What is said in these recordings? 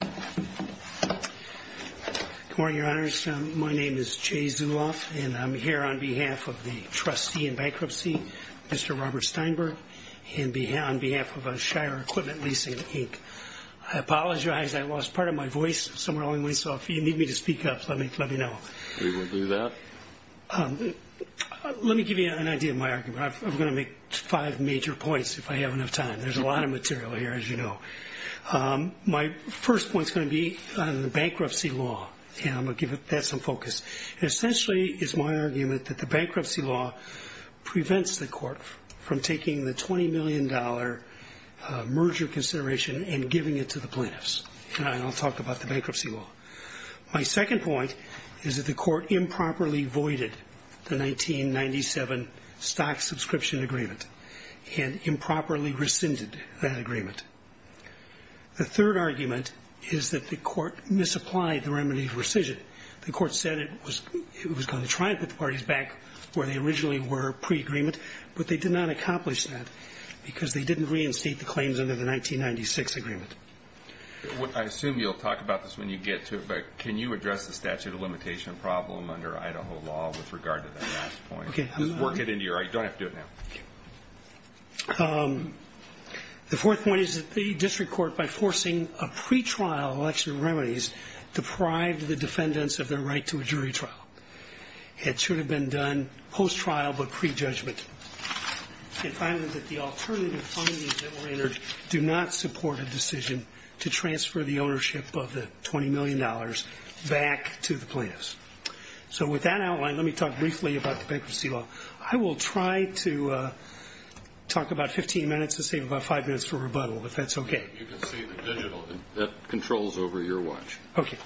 Good morning, Your Honors. My name is Jay Zuloff, and I'm here on behalf of the trustee in bankruptcy, Mr. Robert Steinberg, and on behalf of Shire Equipment Leasing, Inc. I apologize, I lost part of my voice somewhere along the way, so if you need me to speak up, let me know. We will do that. Let me give you an idea of my argument. I'm going to make five major points if I have enough time. There's a lot of material here, as you know. My first point is going to be on the bankruptcy law, and I'm going to give that some focus. Essentially, it's my argument that the bankruptcy law prevents the court from taking the $20 million merger consideration and giving it to the plaintiffs. I'll talk about the bankruptcy law. My second point is that the court improperly voided the 1997 stock subscription agreement and improperly rescinded that agreement. The third argument is that the court misapplied the remedy for rescission. The court said it was going to try and put the parties back where they originally were pre-agreement, but they did not accomplish that because they didn't reinstate the claims under the 1996 agreement. I assume you'll talk about this when you get to it, but can you address the statute of limitation problem under Idaho law with regard to that last point? Just work it into your argument. You don't have to do it now. The fourth point is that the district court, by forcing a pretrial election of remedies, deprived the defendants of their right to a jury trial. It should have been done post-trial but pre-judgment. And finally, that the alternative findings that were entered do not support a decision to transfer the ownership of the $20 million back to the plaintiffs. So with that outline, let me talk briefly about the bankruptcy law. I will try to talk about 15 minutes to save about five minutes for rebuttal, if that's okay. You can see the digital that controls over your watch. Okay.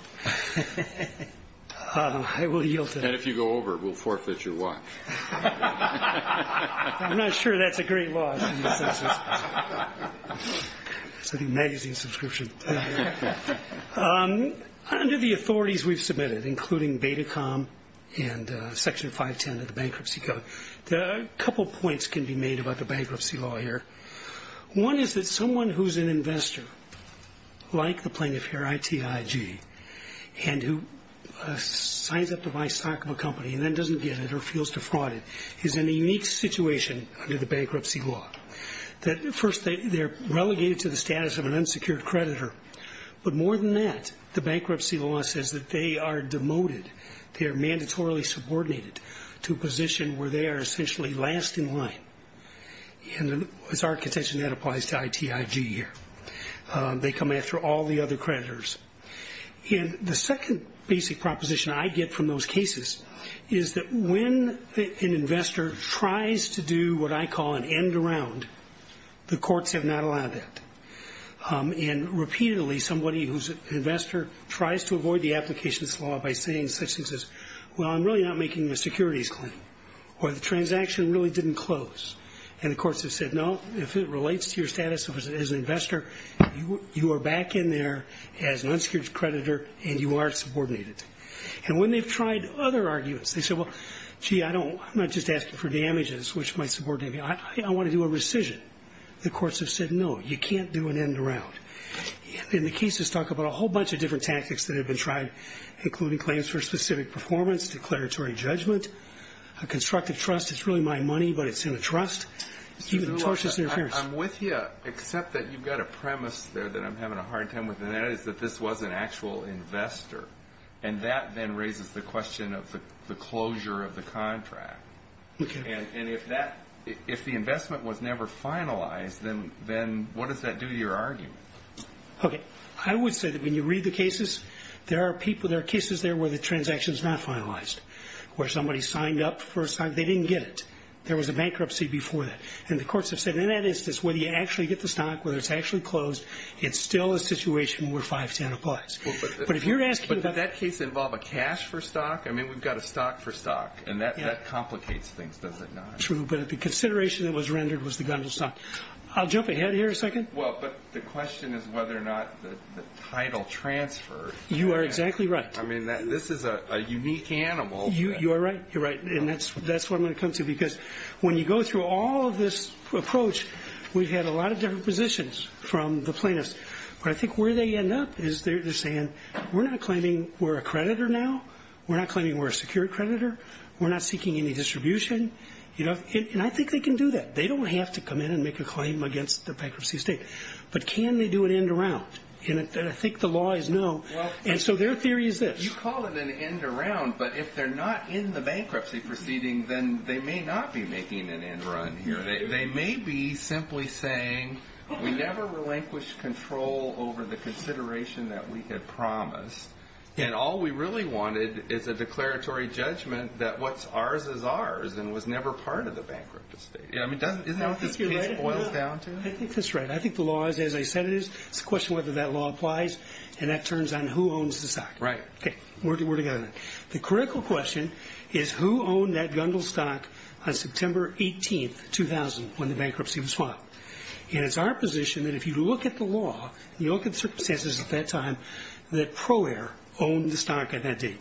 I will yield to that. And if you go over, we'll forfeit your watch. I'm not sure that's a great law. It's an amazing subscription. Under the authorities we've submitted, including Betacom and Section 510 of the Bankruptcy Code, a couple points can be made about the bankruptcy law here. One is that someone who's an investor, like the plaintiff here, ITIG, and who signs up to buy stock of a company and then doesn't get it or feels defrauded, is in a unique situation under the bankruptcy law. First, they're relegated to the status of an unsecured creditor. But more than that, the bankruptcy law says that they are demoted. They are mandatorily subordinated to a position where they are essentially last in line. It's our contention that applies to ITIG here. They come after all the other creditors. And the second basic proposition I get from those cases is that when an investor tries to do what I call an end around, the courts have not allowed that. And repeatedly, somebody who's an investor tries to avoid the applications law by saying such things as, well, I'm really not making the securities claim, or the transaction really didn't close. And the courts have said, no, if it relates to your status as an investor, you are back in there as an unsecured creditor and you are subordinated. And when they've tried other arguments, they say, well, gee, I'm not just asking for damages, which might subordinate me. I want to do a rescission. The courts have said, no, you can't do an end around. And the cases talk about a whole bunch of different tactics that have been tried, including claims for specific performance, declaratory judgment, a constructive trust. It's really my money, but it's in a trust, even tortious interference. I'm with you, except that you've got a premise there that I'm having a hard time with, and that is that this was an actual investor. And that then raises the question of the closure of the contract. Okay. And if the investment was never finalized, then what does that do to your argument? Okay. I would say that when you read the cases, there are cases there where the transaction is not finalized, where somebody signed up for a sign. They didn't get it. There was a bankruptcy before that. And the courts have said, in that instance, whether you actually get the stock, whether it's actually closed, it's still a situation where 510 applies. But did that case involve a cash for stock? I mean, we've got a stock for stock, and that complicates things, does it not? True. But the consideration that was rendered was the gondola stock. I'll jump ahead here a second. Well, but the question is whether or not the title transfer. You are exactly right. I mean, this is a unique animal. You are right. You're right. And that's what I'm going to come to, because when you go through all of this approach, we've had a lot of different positions from the plaintiffs. But I think where they end up is they're saying, we're not claiming we're a creditor now. We're not claiming we're a secured creditor. We're not seeking any distribution. And I think they can do that. They don't have to come in and make a claim against the bankruptcy estate. But can they do an end around? And I think the law is no. And so their theory is this. You call it an end around, but if they're not in the bankruptcy proceeding, then they may not be making an end run here. They may be simply saying, we never relinquished control over the consideration that we had promised. And all we really wanted is a declaratory judgment that what's ours is ours and was never part of the bankruptcy estate. Isn't that what this page boils down to? I think that's right. I think the law is as I said it is. It's a question of whether that law applies. And that turns on who owns the stock. Right. Okay. We're together then. The critical question is who owned that Gungel stock on September 18, 2000, when the bankruptcy was filed. And it's our position that if you look at the law, you look at the circumstances at that time, that Pro Air owned the stock at that date.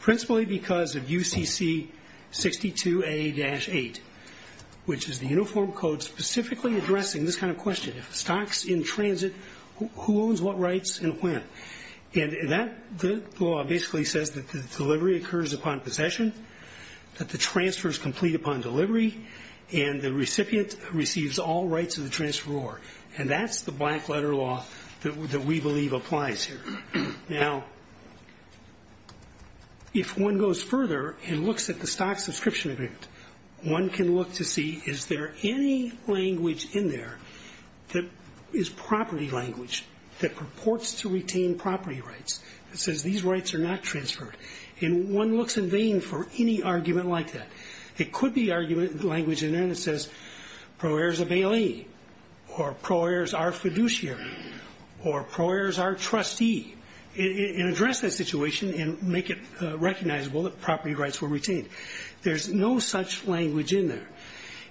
Principally because of UCC 62A-8, which is the Uniform Code specifically addressing this kind of question. If the stock's in transit, who owns what rights and when? And that law basically says that the delivery occurs upon possession, that the transfers complete upon delivery, and the recipient receives all rights of the transferor. And that's the black letter law that we believe applies here. Now, if one goes further and looks at the stock subscription agreement, one can look to see is there any language in there that is property language that purports to retain property rights. It says these rights are not transferred. And one looks in vain for any argument like that. It could be argument language in there that says Pro Air's a bailee, or Pro Air's our fiduciary, or Pro Air's our trustee, and address that situation and make it recognizable that property rights were retained. There's no such language in there.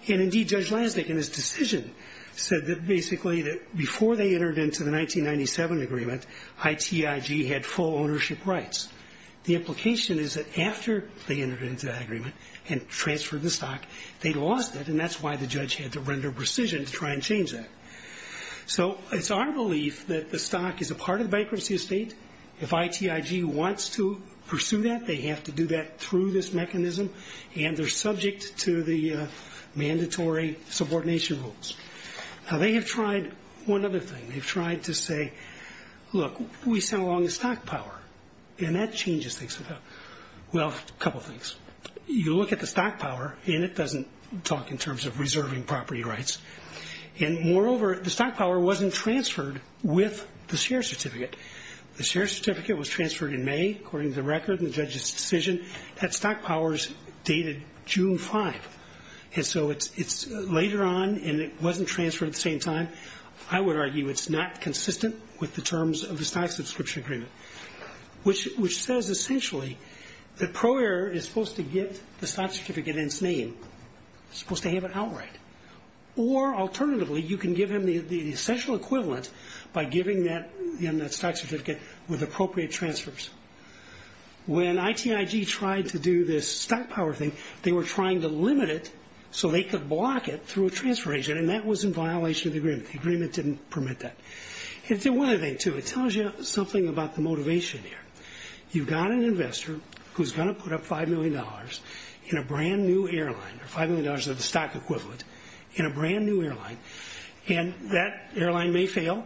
And indeed, Judge Lasnik in his decision said that basically that before they entered into the 1997 agreement, ITIG had full ownership rights. The implication is that after they entered into the agreement and transferred the stock, they lost it, and that's why the judge had to render precision to try and change that. So it's our belief that the stock is a part of the bankruptcy estate. If ITIG wants to pursue that, they have to do that through this mechanism, and they're subject to the mandatory subordination rules. Now, they have tried one other thing. They've tried to say, look, we sell on the stock power, and that changes things. Well, a couple things. You look at the stock power, and it doesn't talk in terms of reserving property rights. And moreover, the stock power wasn't transferred with the share certificate. The share certificate was transferred in May, according to the record in the judge's decision. That stock power is dated June 5. And so it's later on, and it wasn't transferred at the same time. I would argue it's not consistent with the terms of the stock subscription agreement, which says essentially that Pro Air is supposed to get the stock certificate in its name. It's supposed to have it outright. Or alternatively, you can give them the essential equivalent by giving them that stock certificate with appropriate transfers. When ITIG tried to do this stock power thing, they were trying to limit it so they could block it through a transfer agent, and that was in violation of the agreement. The agreement didn't permit that. It did one other thing, too. It tells you something about the motivation here. You've got an investor who's going to put up $5 million in a brand-new airline, or $5 million of the stock equivalent in a brand-new airline, and that airline may fail,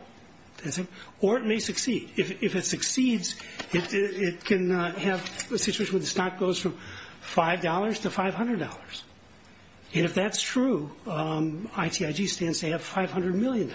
or it may succeed. If it succeeds, it can have a situation where the stock goes from $5 to $500. And if that's true, ITIG stands to have $500 million.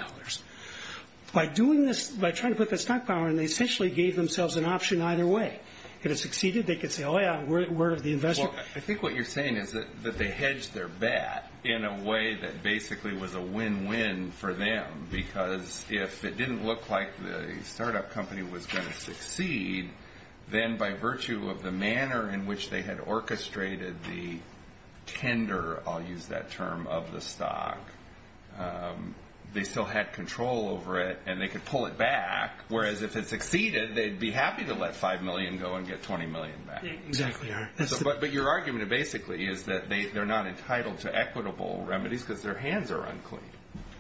By doing this, by trying to put the stock power in, they essentially gave themselves an option either way. If it succeeded, they could say, oh, yeah, word of the investor. I think what you're saying is that they hedged their bet in a way that basically was a win-win for them, because if it didn't look like the startup company was going to succeed, then by virtue of the manner in which they had orchestrated the tender, I'll use that term, of the stock, they still had control over it and they could pull it back, whereas if it succeeded, they'd be happy to let $5 million go and get $20 million back. Exactly. But your argument basically is that they're not entitled to equitable remedies because their hands are unclean.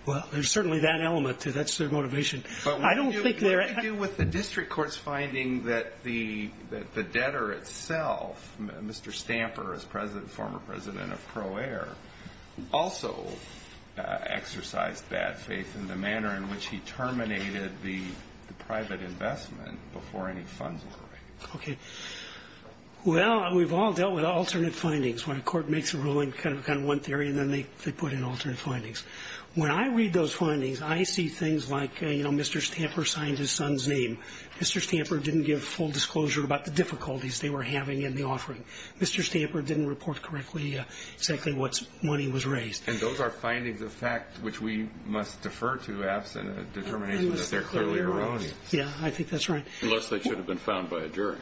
Well, there's certainly that element. That's their motivation. But what do you do with the district court's finding that the debtor itself, Mr. Stamper, former president of Pro Air, also exercised bad faith in the manner in which he terminated the private investment before any funds were raised? Okay. Well, we've all dealt with alternate findings. When a court makes a ruling, kind of one theory, and then they put in alternate findings. When I read those findings, I see things like Mr. Stamper signed his son's name. Mr. Stamper didn't give full disclosure about the difficulties they were having in the offering. Mr. Stamper didn't report correctly exactly what money was raised. And those are findings of fact which we must defer to, absent a determination that they're clearly erroneous. Yeah, I think that's right. Unless they should have been found by a jury.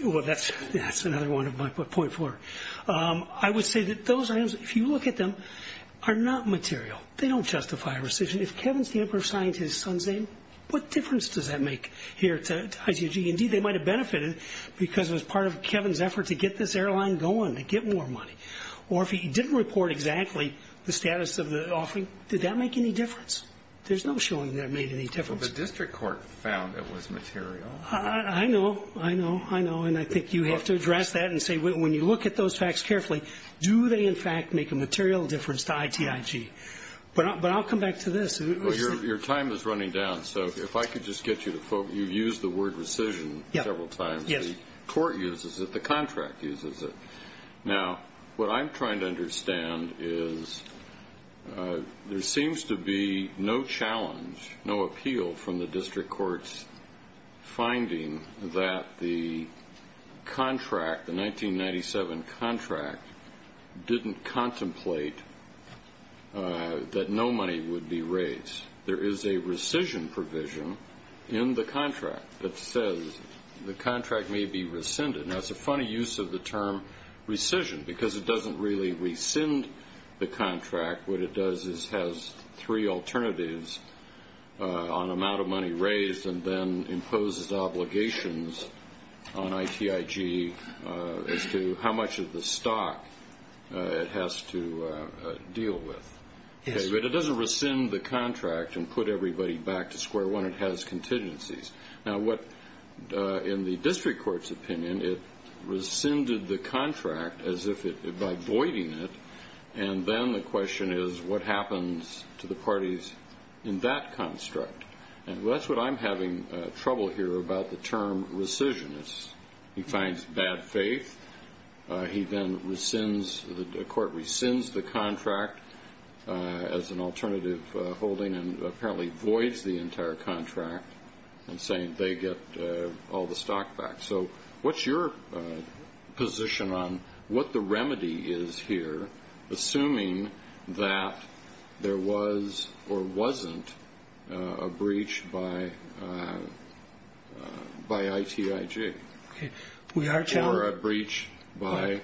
Well, that's another one of my point four. I would say that those items, if you look at them, are not material. They don't justify a rescission. If Kevin Stamper signed his son's name, what difference does that make here to IG&G? Indeed, they might have benefited because it was part of Kevin's effort to get this airline going, to get more money. Or if he didn't report exactly the status of the offering, did that make any difference? There's no showing that it made any difference. Well, the district court found it was material. I know, I know, I know. And I think you have to address that and say when you look at those facts carefully, do they in fact make a material difference to ITIG? But I'll come back to this. Well, your time is running down. So if I could just get you to focus. You used the word rescission several times. The court uses it. The contract uses it. Now, what I'm trying to understand is there seems to be no challenge, no appeal from the district court's finding that the contract, the 1997 contract, didn't contemplate that no money would be raised. There is a rescission provision in the contract that says the contract may be rescinded. Now, it's a funny use of the term rescission because it doesn't really rescind the contract. What it does is has three alternatives on amount of money raised and then imposes obligations on ITIG as to how much of the stock it has to deal with. But it doesn't rescind the contract and put everybody back to square one. It has contingencies. Now, what in the district court's opinion, it rescinded the contract by voiding it, and then the question is what happens to the parties in that construct. And that's what I'm having trouble here about the term rescission. He finds bad faith. He then rescinds, the court rescinds the contract as an alternative holding and apparently voids the entire contract and saying they get all the stock back. So what's your position on what the remedy is here, assuming that there was or wasn't a breach by ITIG or a breach by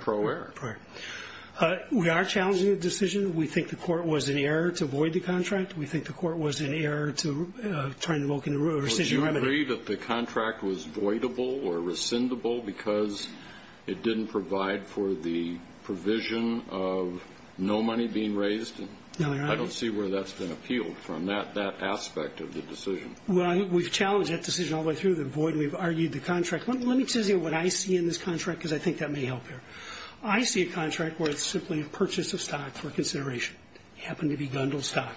Pro Air? We are challenging the decision. We think the court was in error to void the contract. We think the court was in error to try and invoke a rescission remedy. Well, do you agree that the contract was voidable or rescindable because it didn't provide for the provision of no money being raised? No, Your Honor. I don't see where that's been appealed from, that aspect of the decision. Well, we've challenged that decision all the way through, the void and we've argued the contract. Let me tell you what I see in this contract because I think that may help here. I see a contract where it's simply a purchase of stock for consideration. It happened to be Gundel stock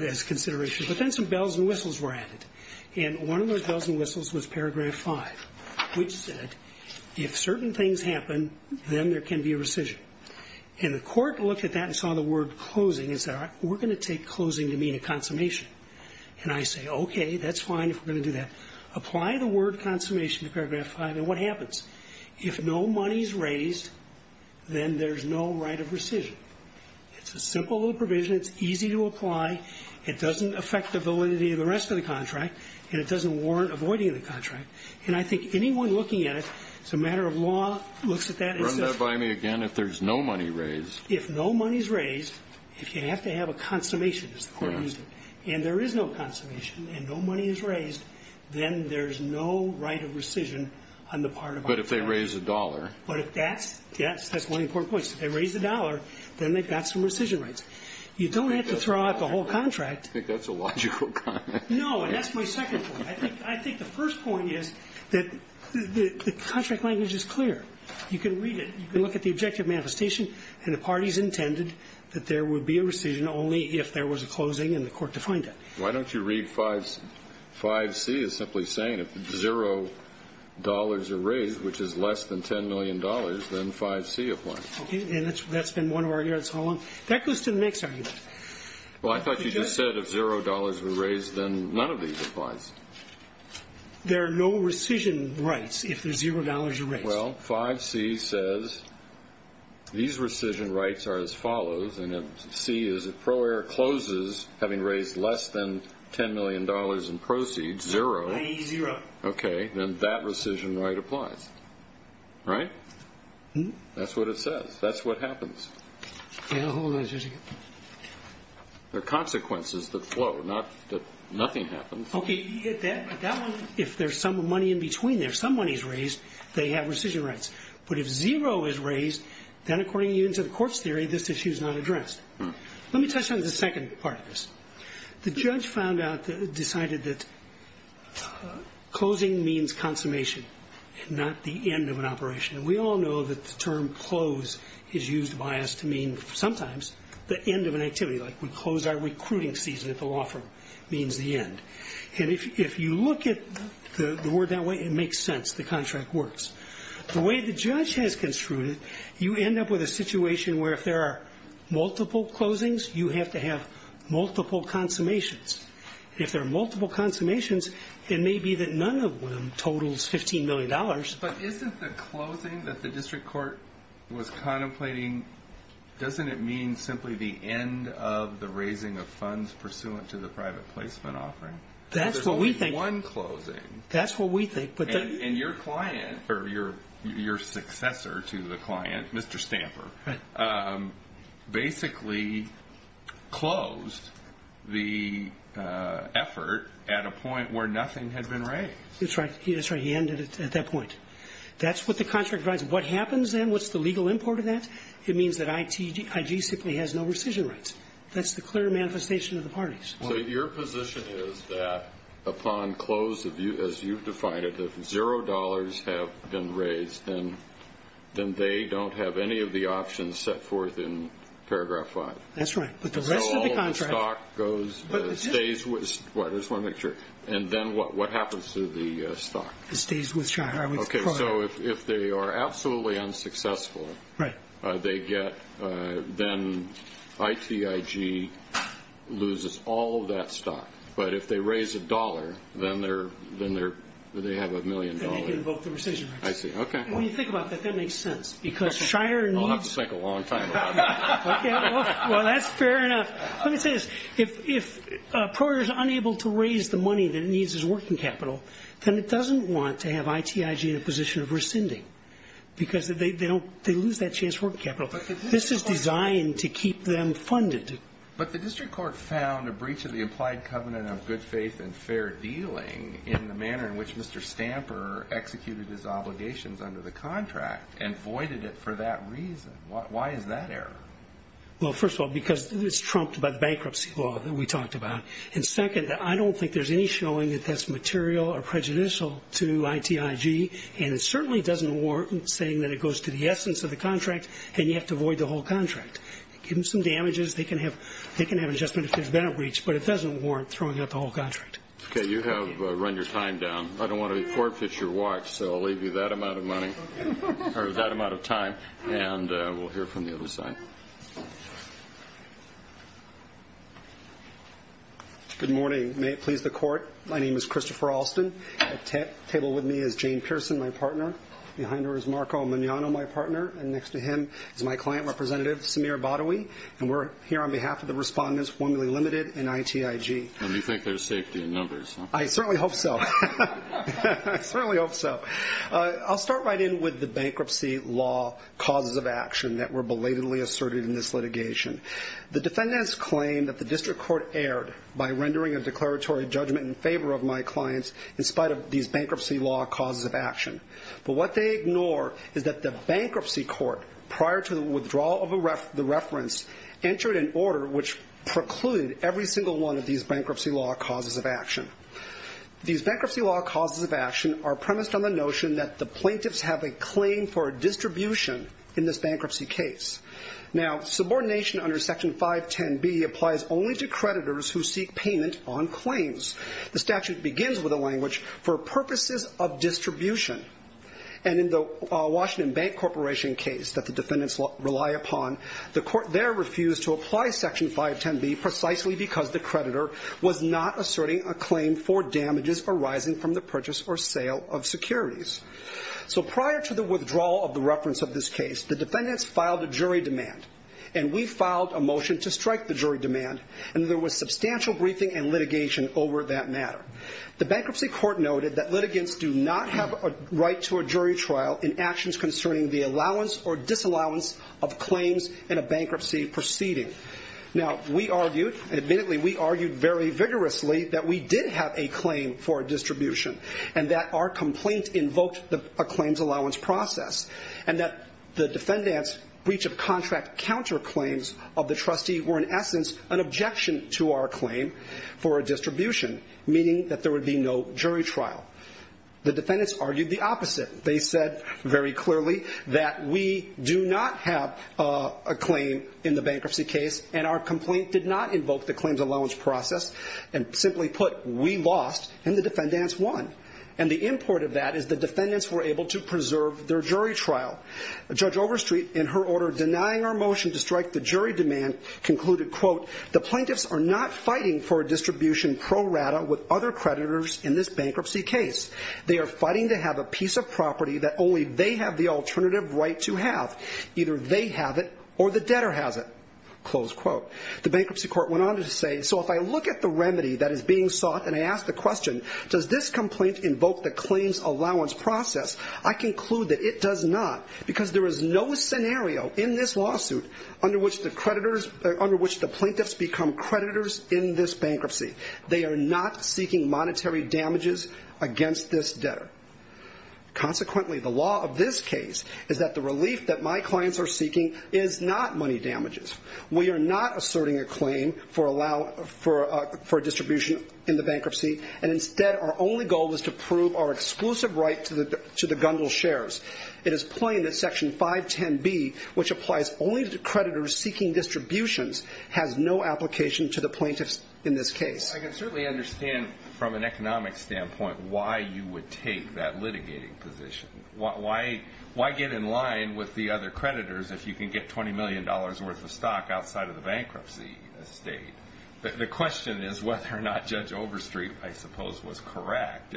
as consideration. But then some bells and whistles were added. And one of those bells and whistles was Paragraph 5, which said if certain things happen, then there can be a rescission. And the court looked at that and saw the word closing and said, we're going to take closing to mean a consummation. And I say, okay, that's fine if we're going to do that. Apply the word consummation to Paragraph 5 and what happens? If no money is raised, then there's no right of rescission. It's a simple little provision. It's easy to apply. It doesn't affect the validity of the rest of the contract, and it doesn't warrant avoiding the contract. And I think anyone looking at it, it's a matter of law, looks at that and says... Run that by me again. If there's no money raised... If no money is raised, if you have to have a consummation... Correct. And there is no consummation and no money is raised, then there's no right of rescission on the part of our client. But if they raise a dollar... But if that's... Yes, that's one important point. If they raise a dollar, then they've got some rescission rights. You don't have to throw out the whole contract. I think that's a logical comment. No, and that's my second point. I think the first point is that the contract language is clear. You can read it. You can look at the objective manifestation, and the parties intended that there would be a rescission only if there was a closing and the court defined it. Why don't you read 5C as simply saying if zero dollars are raised, which is less than $10 million, then 5C applies. Okay, and that's been one of our arguments all along. That goes to the next argument. Well, I thought you just said if zero dollars were raised, then none of these applies. There are no rescission rights if there's zero dollars raised. Well, 5C says these rescission rights are as follows, and C is if Pro Air closes, having raised less than $10 million in proceeds, zero. I need zero. Okay, then that rescission right applies. Right? That's what it says. That's what happens. Hold on just a second. There are consequences that flow, not that nothing happens. Okay, you get that. But that one, if there's some money in between there, some money is raised, they have rescission rights. But if zero is raised, then according to the court's theory, this issue is not addressed. Let me touch on the second part of this. The judge found out, decided that closing means consummation, not the end of an operation. And we all know that the term close is used by us to mean sometimes the end of an activity, like we close our recruiting season at the law firm means the end. And if you look at the word that way, it makes sense. The contract works. The way the judge has construed it, you end up with a situation where if there are multiple closings, you have to have multiple consummations. If there are multiple consummations, it may be that none of them totals $15 million. But isn't the closing that the district court was contemplating, doesn't it mean simply the end of the raising of funds pursuant to the private placement offering? That's what we think. There's only one closing. That's what we think. And your client, or your successor to the client, Mr. Stamper, basically closed the effort at a point where nothing had been raised. That's right. He ended it at that point. That's what the contract provides. What happens then? What's the legal import of that? It means that IG simply has no rescission rights. That's the clear manifestation of the parties. So your position is that upon close, as you've defined it, if $0 have been raised, then they don't have any of the options set forth in Paragraph 5. That's right. But the rest of the contract goes to the district. I just want to make sure. And then what happens to the stock? It stays with Chai. If they are absolutely unsuccessful, then ITIG loses all of that stock. But if they raise $1, then they have $1 million. Then they can invoke the rescission rights. When you think about that, that makes sense. I'll have to think a long time about that. Well, that's fair enough. Let me say this. If a proprietor is unable to raise the money that it needs as working capital, then it doesn't want to have ITIG in a position of rescinding because they don't they lose that chance working capital. This is designed to keep them funded. But the district court found a breach of the implied covenant of good faith and fair dealing in the manner in which Mr. Stamper executed his obligations under the contract and voided it for that reason. Why is that error? Well, first of all, because it's trumped by the bankruptcy law that we talked about. And second, I don't think there's any showing that that's material or prejudicial to ITIG. And it certainly doesn't warrant saying that it goes to the essence of the contract and you have to void the whole contract. Give them some damages, they can have an adjustment if there's been a breach, but it doesn't warrant throwing out the whole contract. Okay, you have run your time down. I don't want to forfeit your watch, so I'll leave you that amount of money or that amount of time, and we'll hear from the other side. Good morning. May it please the court. My name is Christopher Alston. At the table with me is Jane Pearson, my partner. Behind her is Marco Mignano, my partner. And next to him is my client, Representative Samir Badawi. And we're here on behalf of the respondents, formulae limited and ITIG. And you think there's safety in numbers, huh? I certainly hope so. I certainly hope so. I'll start right in with the bankruptcy law causes of action that were belatedly asserted in this litigation. The defendants claim that the district court erred by rendering a declaratory judgment in favor of my clients in spite of these bankruptcy law causes of action. But what they ignore is that the bankruptcy court, prior to the withdrawal of the reference, entered an order which precluded every single one of these bankruptcy law causes of action. These bankruptcy law causes of action are premised on the notion that the plaintiffs have a claim for a distribution in this bankruptcy case. Now, subordination under Section 510B applies only to creditors who seek payment on claims. The statute begins with a language, for purposes of distribution. And in the Washington Bank Corporation case that the defendants rely upon, the court there refused to apply Section 510B precisely because the creditor was not asserting a claim for damages arising from the purchase or sale of securities. So prior to the withdrawal of the reference of this case, the defendants filed a jury demand, and we filed a motion to strike the jury demand, and there was substantial briefing and litigation over that matter. The bankruptcy court noted that litigants do not have a right to a jury trial in actions concerning the allowance or disallowance of claims in a bankruptcy proceeding. Now, we argued, and admittedly we argued very vigorously, that we did have a claim for a distribution and that our complaint invoked a claims allowance process and that the defendants' breach of contract counterclaims of the trustee were in essence an objection to our claim for a distribution, meaning that there would be no jury trial. The defendants argued the opposite. They said very clearly that we do not have a claim in the bankruptcy case and our complaint did not invoke the claims allowance process, and simply put, we lost and the defendants won. And the import of that is the defendants were able to preserve their jury trial. Judge Overstreet, in her order denying our motion to strike the jury demand, concluded, quote, the plaintiffs are not fighting for a distribution pro rata with other creditors in this bankruptcy case. They are fighting to have a piece of property that only they have the alternative right to have. Either they have it or the debtor has it. Close quote. The bankruptcy court went on to say, so if I look at the remedy that is being sought and I ask the question, does this complaint invoke the claims allowance process, I conclude that it does not because there is no scenario in this lawsuit under which the plaintiffs become creditors in this bankruptcy. They are not seeking monetary damages against this debtor. Consequently, the law of this case is that the relief that my clients are seeking is not money damages. We are not asserting a claim for distribution in the bankruptcy and instead our only goal is to prove our exclusive right to the Gundle shares. It is plain that section 510B, which applies only to creditors seeking distributions, has no application to the plaintiffs in this case. I can certainly understand from an economic standpoint why you would take that litigating position. Why get in line with the other creditors if you can get $20 million worth of stock outside of the bankruptcy estate? The question is whether or not Judge Overstreet, I suppose, was correct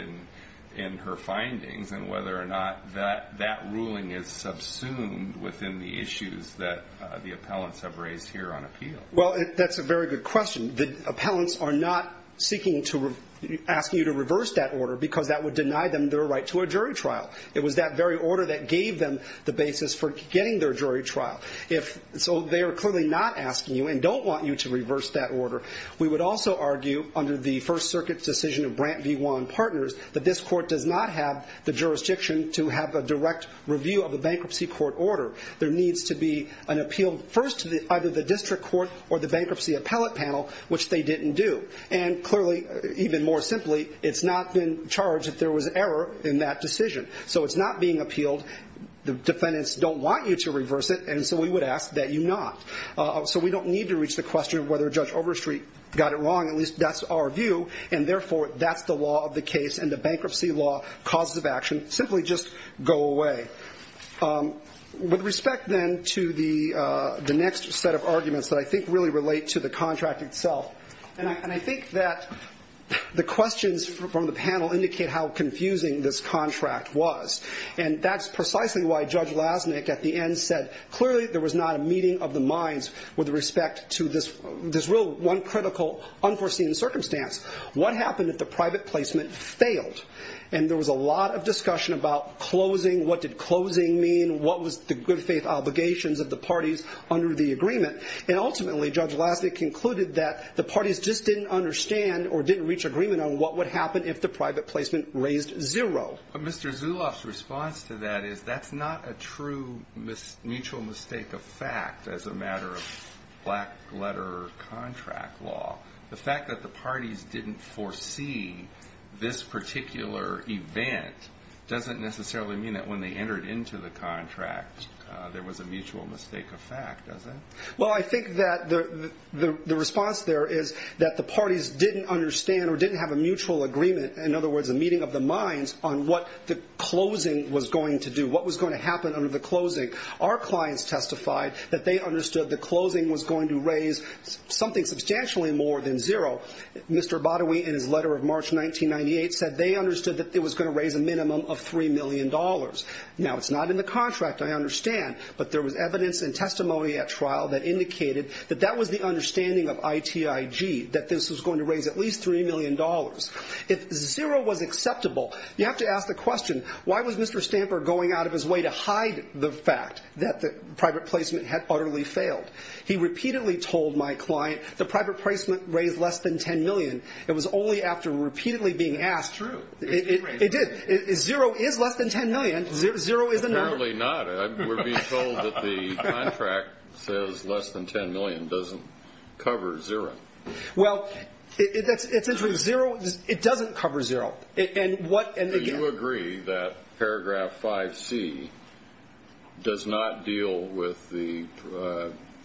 in her findings and whether or not that ruling is subsumed within the issues that the appellants have raised here on appeal. That's a very good question. The appellants are not asking you to reverse that order because that would deny them their right to a jury trial. It was that very order that gave them the basis for getting their jury trial. So they are clearly not asking you and don't want you to reverse that order. We would also argue under the First Circuit decision of Brandt v. Wan Partners that this court does not have the jurisdiction to have a direct review of a bankruptcy court order. There needs to be an appeal first to either the district court or the bankruptcy appellate panel, which they didn't do. And clearly, even more simply, it's not been charged that there was error in that decision. So it's not being appealed. The defendants don't want you to reverse it, and so we would ask that you not. So we don't need to reach the question of whether Judge Overstreet got it wrong. At least that's our view, and therefore that's the law of the case and the bankruptcy law causes of action simply just go away. With respect, then, to the next set of arguments that I think really relate to the contract itself, and I think that the questions from the panel indicate how confusing this contract was, and that's precisely why Judge Lasnik at the end said clearly there was not a meeting of the minds with respect to this real one critical unforeseen circumstance. What happened if the private placement failed? And there was a lot of discussion about closing. What did closing mean? What was the good faith obligations of the parties under the agreement? And ultimately, Judge Lasnik concluded that the parties just didn't understand or didn't reach agreement on what would happen if the private placement raised zero. But Mr. Zuloff's response to that is that's not a true mutual mistake of fact as a matter of black-letter contract law. The fact that the parties didn't foresee this particular event doesn't necessarily mean that when they entered into the contract there was a mutual mistake of fact, does it? Well, I think that the response there is that the parties didn't understand or didn't have a mutual agreement, in other words, a meeting of the minds on what the closing was going to do, what was going to happen under the closing. Our clients testified that they understood the closing was going to raise something substantially more than zero. Mr. Badawi, in his letter of March 1998, said they understood that it was going to raise a minimum of $3 million. Now, it's not in the contract, I understand, but there was evidence and testimony at trial that indicated that that was the understanding of ITIG, that this was going to raise at least $3 million. If zero was acceptable, you have to ask the question, why was Mr. Stamper going out of his way to hide the fact that the private placement had utterly failed? He repeatedly told my client the private placement raised less than $10 million. It was only after repeatedly being asked. That's true. It did. Zero is less than $10 million. Zero is a number. Apparently not. We're being told that the contract says less than $10 million doesn't cover zero. Well, it doesn't cover zero. Do you agree that paragraph 5C does not deal with the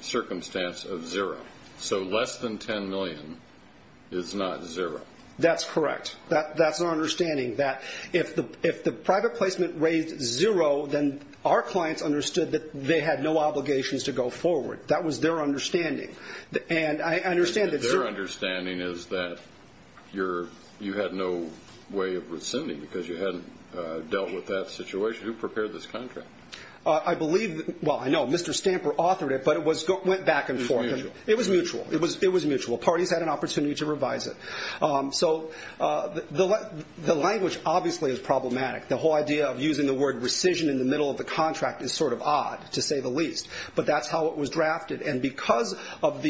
circumstance of zero? So less than $10 million is not zero. That's correct. That's our understanding, that if the private placement raised zero, then our clients understood that they had no obligations to go forward. That was their understanding. Their understanding is that you had no way of rescinding because you hadn't dealt with that situation. Who prepared this contract? I know Mr. Stamper authored it, but it went back and forth. It was mutual. It was mutual. Parties had an opportunity to revise it. So the language obviously is problematic. The whole idea of using the word rescission in the middle of the contract is sort of odd, to say the least, but that's how it was drafted. And because of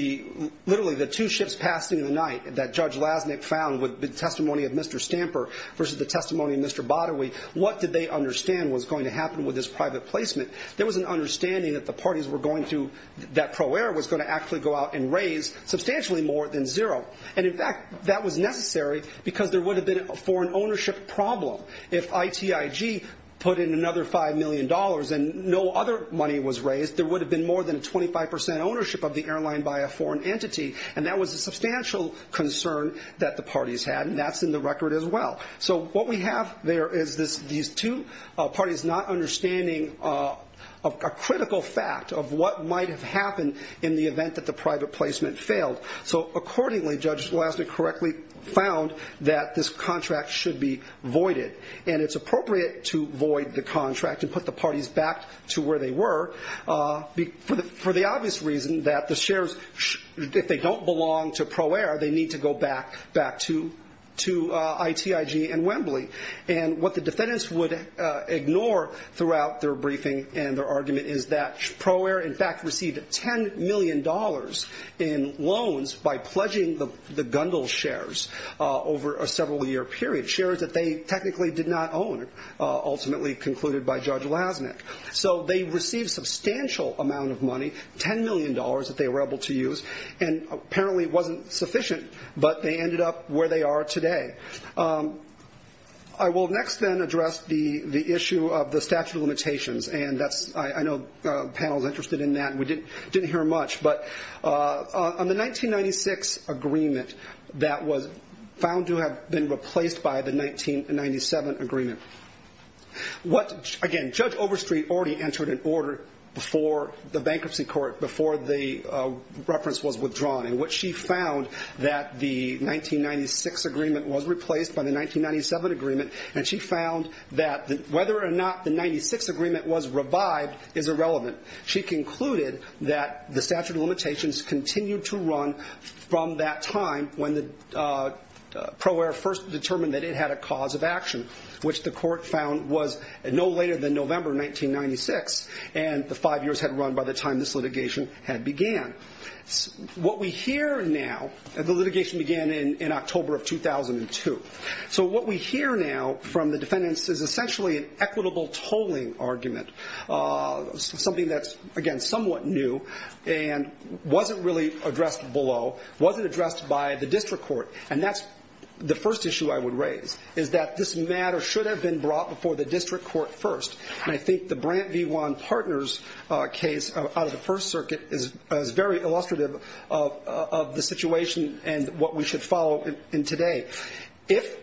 literally the two ships passing in the night that Judge Lasnik found with the testimony of Mr. Stamper versus the testimony of Mr. Batawi, what did they understand was going to happen with this private placement? There was an understanding that the parties were going to, that Pro Air was going to actually go out and raise substantially more than zero. And, in fact, that was necessary because there would have been, for an ownership problem, if ITIG put in another $5 million and no other money was raised, there would have been more than a 25 percent ownership of the airline by a foreign entity, and that was a substantial concern that the parties had, and that's in the record as well. So what we have there is these two parties not understanding a critical fact of what might have happened in the event that the private placement failed. So, accordingly, Judge Lasnik correctly found that this contract should be voided, and it's appropriate to void the contract and put the parties back to where they were, for the obvious reason that the shares, if they don't belong to Pro Air, they need to go back to ITIG and Wembley. And what the defendants would ignore throughout their briefing and their argument is that Pro Air, in fact, received $10 million in loans by pledging the Gundle shares over a several-year period, shares that they technically did not own, ultimately concluded by Judge Lasnik. So they received a substantial amount of money, $10 million that they were able to use, and apparently it wasn't sufficient, but they ended up where they are today. I will next then address the issue of the statute of limitations, and I know the panel is interested in that and we didn't hear much, but on the 1996 agreement that was found to have been replaced by the 1997 agreement, again, Judge Overstreet already entered an order before the bankruptcy court, before the reference was withdrawn, in which she found that the 1996 agreement was replaced by the 1997 agreement, and she found that whether or not the 1996 agreement was revived is irrelevant. She concluded that the statute of limitations continued to run from that time when Pro Air first determined that it had a cause of action, which the court found was no later than November 1996, and the five years had run by the time this litigation had began. What we hear now, the litigation began in October of 2002, so what we hear now from the defendants is essentially an equitable tolling argument, something that's, again, somewhat new and wasn't really addressed below, wasn't addressed by the district court, and that's the first issue I would raise, is that this matter should have been brought before the district court first, and I think the Brandt v. Wan partners case out of the First Circuit is very illustrative of the situation and what we should follow in today. If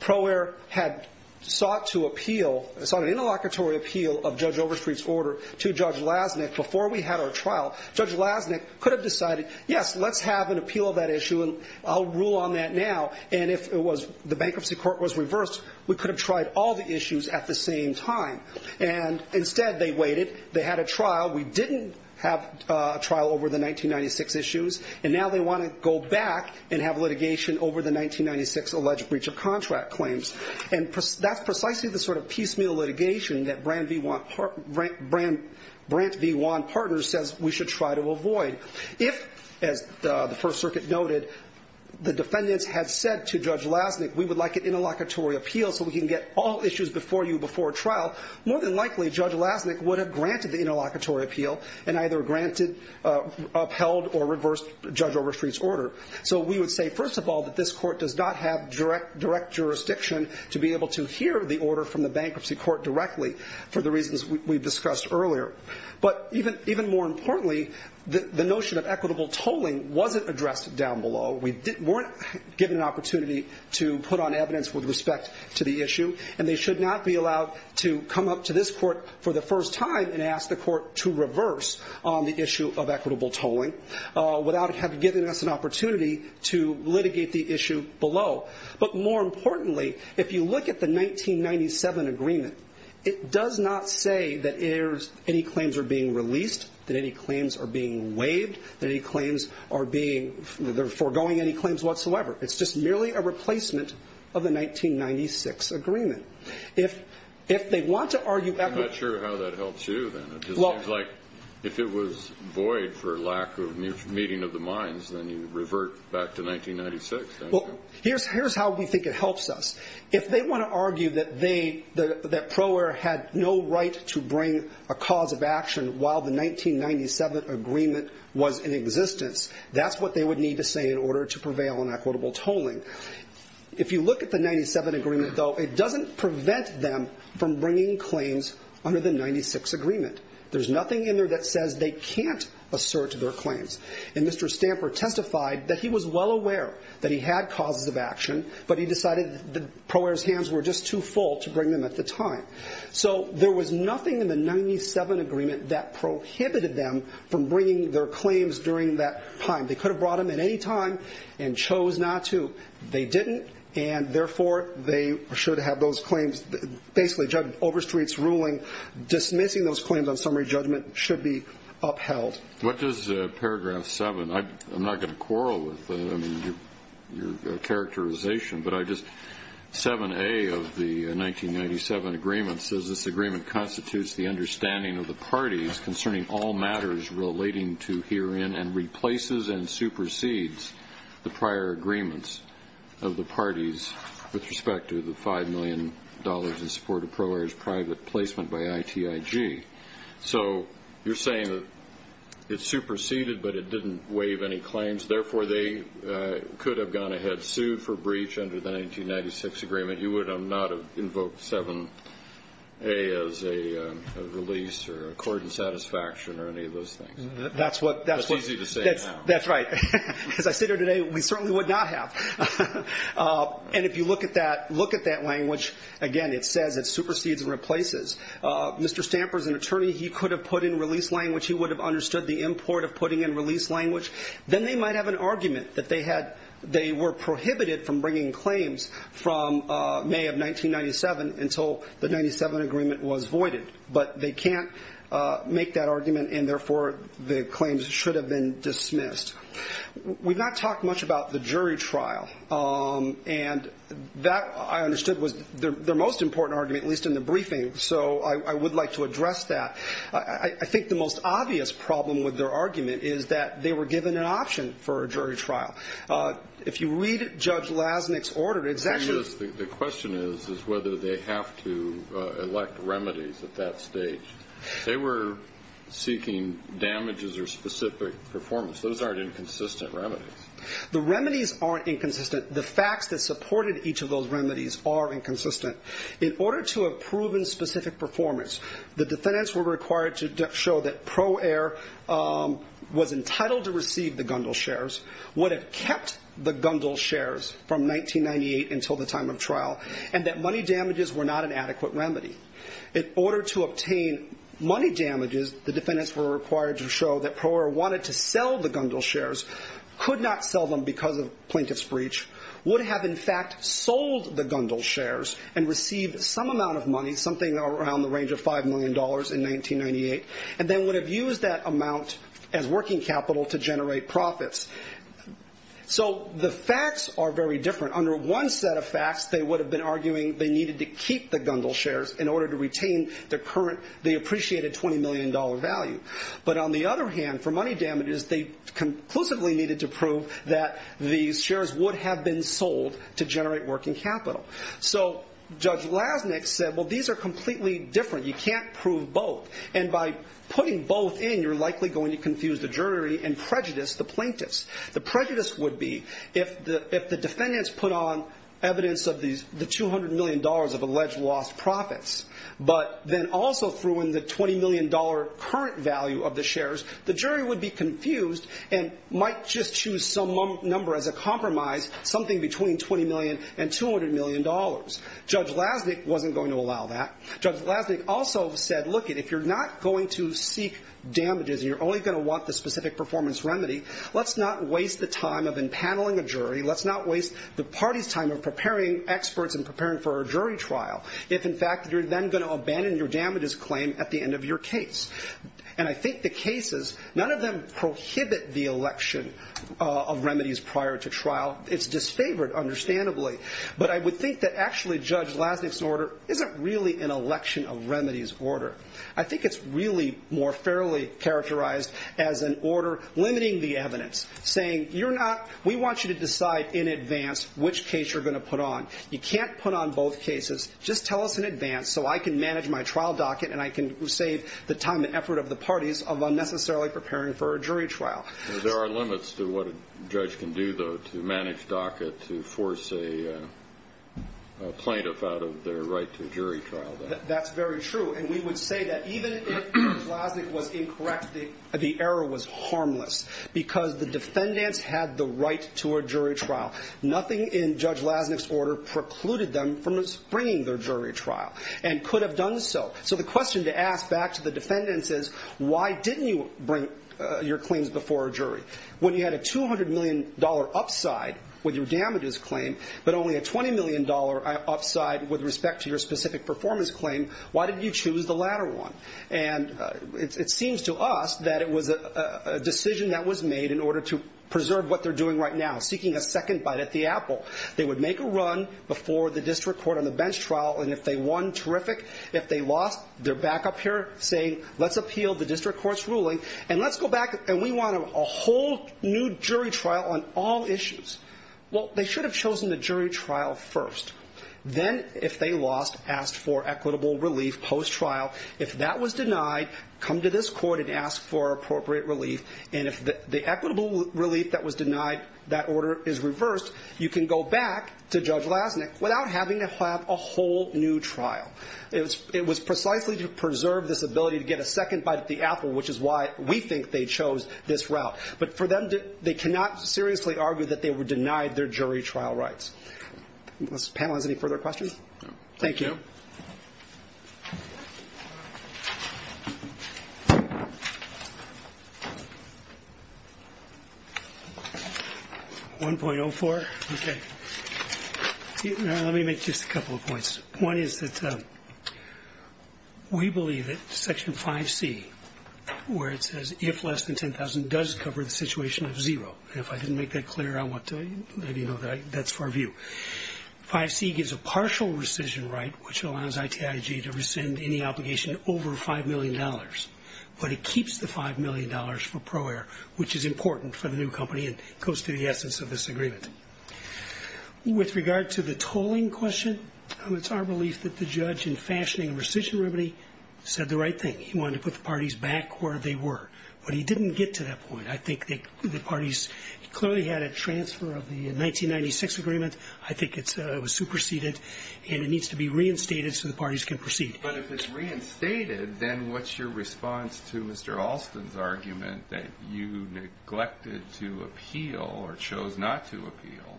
Pro Air had sought to appeal, sought an interlocutory appeal of Judge Overstreet's order to Judge Lasnik before we had our trial, Judge Lasnik could have decided, yes, let's have an appeal of that issue, and I'll rule on that now, and if the bankruptcy court was reversed, we could have tried all the issues at the same time, and instead they waited. They had a trial. We didn't have a trial over the 1996 issues, and now they want to go back and have litigation over the 1996 alleged breach of contract claims, and that's precisely the sort of piecemeal litigation that Brandt v. Wan partners says we should try to avoid. If, as the First Circuit noted, the defendants had said to Judge Lasnik, we would like an interlocutory appeal so we can get all issues before you before trial, more than likely Judge Lasnik would have granted the interlocutory appeal and either upheld or reversed Judge Overstreet's order. So we would say, first of all, that this court does not have direct jurisdiction to be able to hear the order from the bankruptcy court directly for the reasons we discussed earlier, but even more importantly, the notion of equitable tolling wasn't addressed down below. We weren't given an opportunity to put on evidence with respect to the issue, and they should not be allowed to come up to this court for the first time and ask the court to reverse on the issue of equitable tolling without having given us an opportunity to litigate the issue below. But more importantly, if you look at the 1997 agreement, it does not say that any claims are being released, that any claims are being waived, that any claims are being foregoing any claims whatsoever. It's just merely a replacement of the 1996 agreement. I'm not sure how that helps you then. It seems like if it was void for lack of meeting of the minds, then you revert back to 1996. Here's how we think it helps us. If they want to argue that Pro Air had no right to bring a cause of action while the 1997 agreement was in existence, that's what they would need to say in order to prevail on equitable tolling. If you look at the 1997 agreement, though, it doesn't prevent them from bringing claims under the 1996 agreement. There's nothing in there that says they can't assert their claims. And Mr. Stamper testified that he was well aware that he had causes of action, but he decided that Pro Air's hands were just too full to bring them at the time. So there was nothing in the 1997 agreement that prohibited them from bringing their claims during that time. They could have brought them at any time and chose not to. They didn't, and, therefore, they should have those claims. Basically, overstreet's ruling dismissing those claims on summary judgment should be upheld. What does paragraph 7? I'm not going to quarrel with your characterization, but I just 7A of the 1997 agreement says, This agreement constitutes the understanding of the parties concerning all matters relating to, herein, and replaces and supersedes the prior agreements of the parties with respect to the $5 million in support of Pro Air's private placement by ITIG. So you're saying that it superseded, but it didn't waive any claims. Therefore, they could have gone ahead, sued for breach under the 1996 agreement. You would not have invoked 7A as a release or a court in satisfaction or any of those things. That's what that's what. That's easy to say now. That's right. As I sit here today, we certainly would not have. And if you look at that language, again, it says it supersedes and replaces. Mr. Stamper's an attorney. He could have put in release language. He would have understood the import of putting in release language. Then they might have an argument that they were prohibited from bringing claims from May of 1997 until the 1997 agreement was voided. But they can't make that argument, and therefore the claims should have been dismissed. We've not talked much about the jury trial. And that, I understood, was their most important argument, at least in the briefing. So I would like to address that. I think the most obvious problem with their argument is that they were given an option for a jury trial. If you read Judge Lasnik's order, it's actually the question is whether they have to elect remedies at that stage. They were seeking damages or specific performance. Those aren't inconsistent remedies. The remedies aren't inconsistent. The facts that supported each of those remedies are inconsistent. In order to have proven specific performance, the defendants were required to show that Pro Air was entitled to receive the Gundle shares, would have kept the Gundle shares from 1998 until the time of trial, and that money damages were not an adequate remedy. In order to obtain money damages, the defendants were required to show that Pro Air wanted to sell the Gundle shares, could not sell them because of plaintiff's breach, would have, in fact, sold the Gundle shares, and received some amount of money, something around the range of $5 million in 1998, and then would have used that amount as working capital to generate profits. So the facts are very different. Under one set of facts, they would have been arguing they needed to keep the Gundle shares in order to retain the current, the appreciated $20 million value. But on the other hand, for money damages, they conclusively needed to prove that these shares would have been sold to generate working capital. So Judge Lasnik said, well, these are completely different. You can't prove both. And by putting both in, you're likely going to confuse the jury and prejudice the plaintiffs. The prejudice would be if the defendants put on evidence of the $200 million of alleged lost profits, but then also threw in the $20 million current value of the shares, the jury would be confused and might just choose some number as a compromise, something between $20 million and $200 million. Judge Lasnik wasn't going to allow that. Judge Lasnik also said, look, if you're not going to seek damages and you're only going to want the specific performance remedy, let's not waste the time of impaneling a jury. Let's not waste the party's time of preparing experts and preparing for a jury trial. If, in fact, you're then going to abandon your damages claim at the end of your case. And I think the cases, none of them prohibit the election of remedies prior to trial. It's disfavored, understandably. But I would think that actually Judge Lasnik's order isn't really an election of remedies order. I think it's really more fairly characterized as an order limiting the evidence, saying you're not, we want you to decide in advance which case you're going to put on. You can't put on both cases, just tell us in advance so I can manage my trial docket and I can save the time and effort of the parties of unnecessarily preparing for a jury trial. There are limits to what a judge can do, though, to manage docket to force a plaintiff out of their right to a jury trial. That's very true. And we would say that even if Judge Lasnik was incorrect, the error was harmless because the defendants had the right to a jury trial. Nothing in Judge Lasnik's order precluded them from bringing their jury trial and could have done so. So the question to ask back to the defendants is, why didn't you bring your claims before a jury? When you had a $200 million upside with your damages claim, but only a $20 million upside with respect to your specific performance claim, why did you choose the latter one? And it seems to us that it was a decision that was made in order to preserve what they're doing right now, seeking a second bite at the apple. They would make a run before the district court on the bench trial, and if they won, terrific. If they lost, they're back up here saying, let's appeal the district court's ruling, and let's go back and we want a whole new jury trial on all issues. Well, they should have chosen the jury trial first. Then, if they lost, ask for equitable relief post-trial. If that was denied, come to this court and ask for appropriate relief. And if the equitable relief that was denied, that order is reversed, you can go back to Judge Lasnik without having to have a whole new trial. It was precisely to preserve this ability to get a second bite at the apple, which is why we think they chose this route. But for them, they cannot seriously argue that they were denied their jury trial rights. This panel has any further questions? Thank you. 1.04, okay. Let me make just a couple of points. One is that we believe that Section 5C, where it says, if less than $10,000, does cover the situation of zero. And if I didn't make that clear, I want to let you know that that's for review. 5C gives a partial rescission right, which allows ITIG to rescind any obligation over $5 million. But it keeps the $5 million for Pro Air, which is important for the new company and goes to the essence of this agreement. With regard to the tolling question, it's our belief that the judge, in fashioning a rescission remedy, said the right thing. He wanted to put the parties back where they were. But he didn't get to that point. I think the parties clearly had a transfer of the 1996 agreement. I think it was superseded. And it needs to be reinstated so the parties can proceed. But if it's reinstated, then what's your response to Mr. Alston's argument that you neglected to appeal or chose not to appeal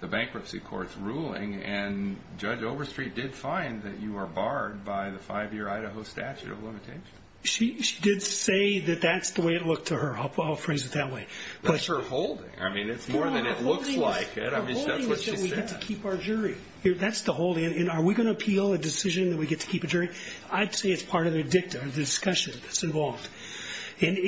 the bankruptcy court's ruling? And Judge Overstreet did find that you were barred by the five-year Idaho statute of limitations. She did say that that's the way it looked to her. I'll phrase it that way. That's her holding. I mean, it's more than it looks like it. I mean, that's what she said. Her holding is that we get to keep our jury. That's the holding. And are we going to appeal a decision that we get to keep a jury? I'd say it's part of the dicta, the discussion that's involved. And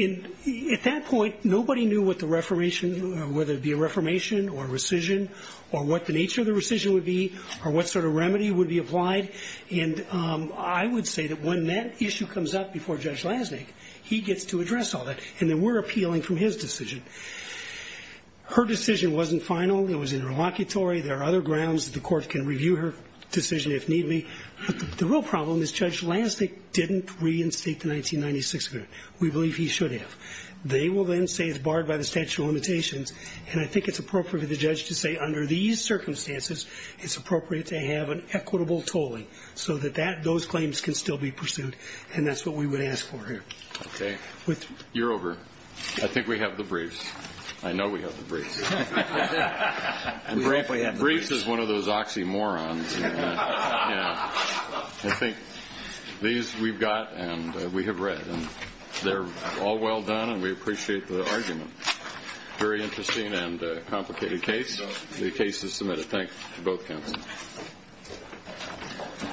at that point, nobody knew what the reformation, whether it be a reformation or rescission, or what the nature of the rescission would be, or what sort of remedy would be applied. And I would say that when that issue comes up before Judge Lasnik, he gets to address all that. And then we're appealing from his decision. Her decision wasn't final. It was interlocutory. There are other grounds that the court can review her decision if need be. But the real problem is Judge Lasnik didn't reinstate the 1996 agreement. We believe he should have. They will then say it's barred by the statute of limitations. And I think it's appropriate for the judge to say, under these circumstances, it's appropriate to have an equitable tolling so that those claims can still be pursued. And that's what we would ask for here. Okay. You're over. I think we have the briefs. I know we have the briefs. Briefs is one of those oxymorons. I think these we've got and we have read. They're all well done, and we appreciate the argument. Very interesting and complicated case. The case is submitted. Thanks to both counsels.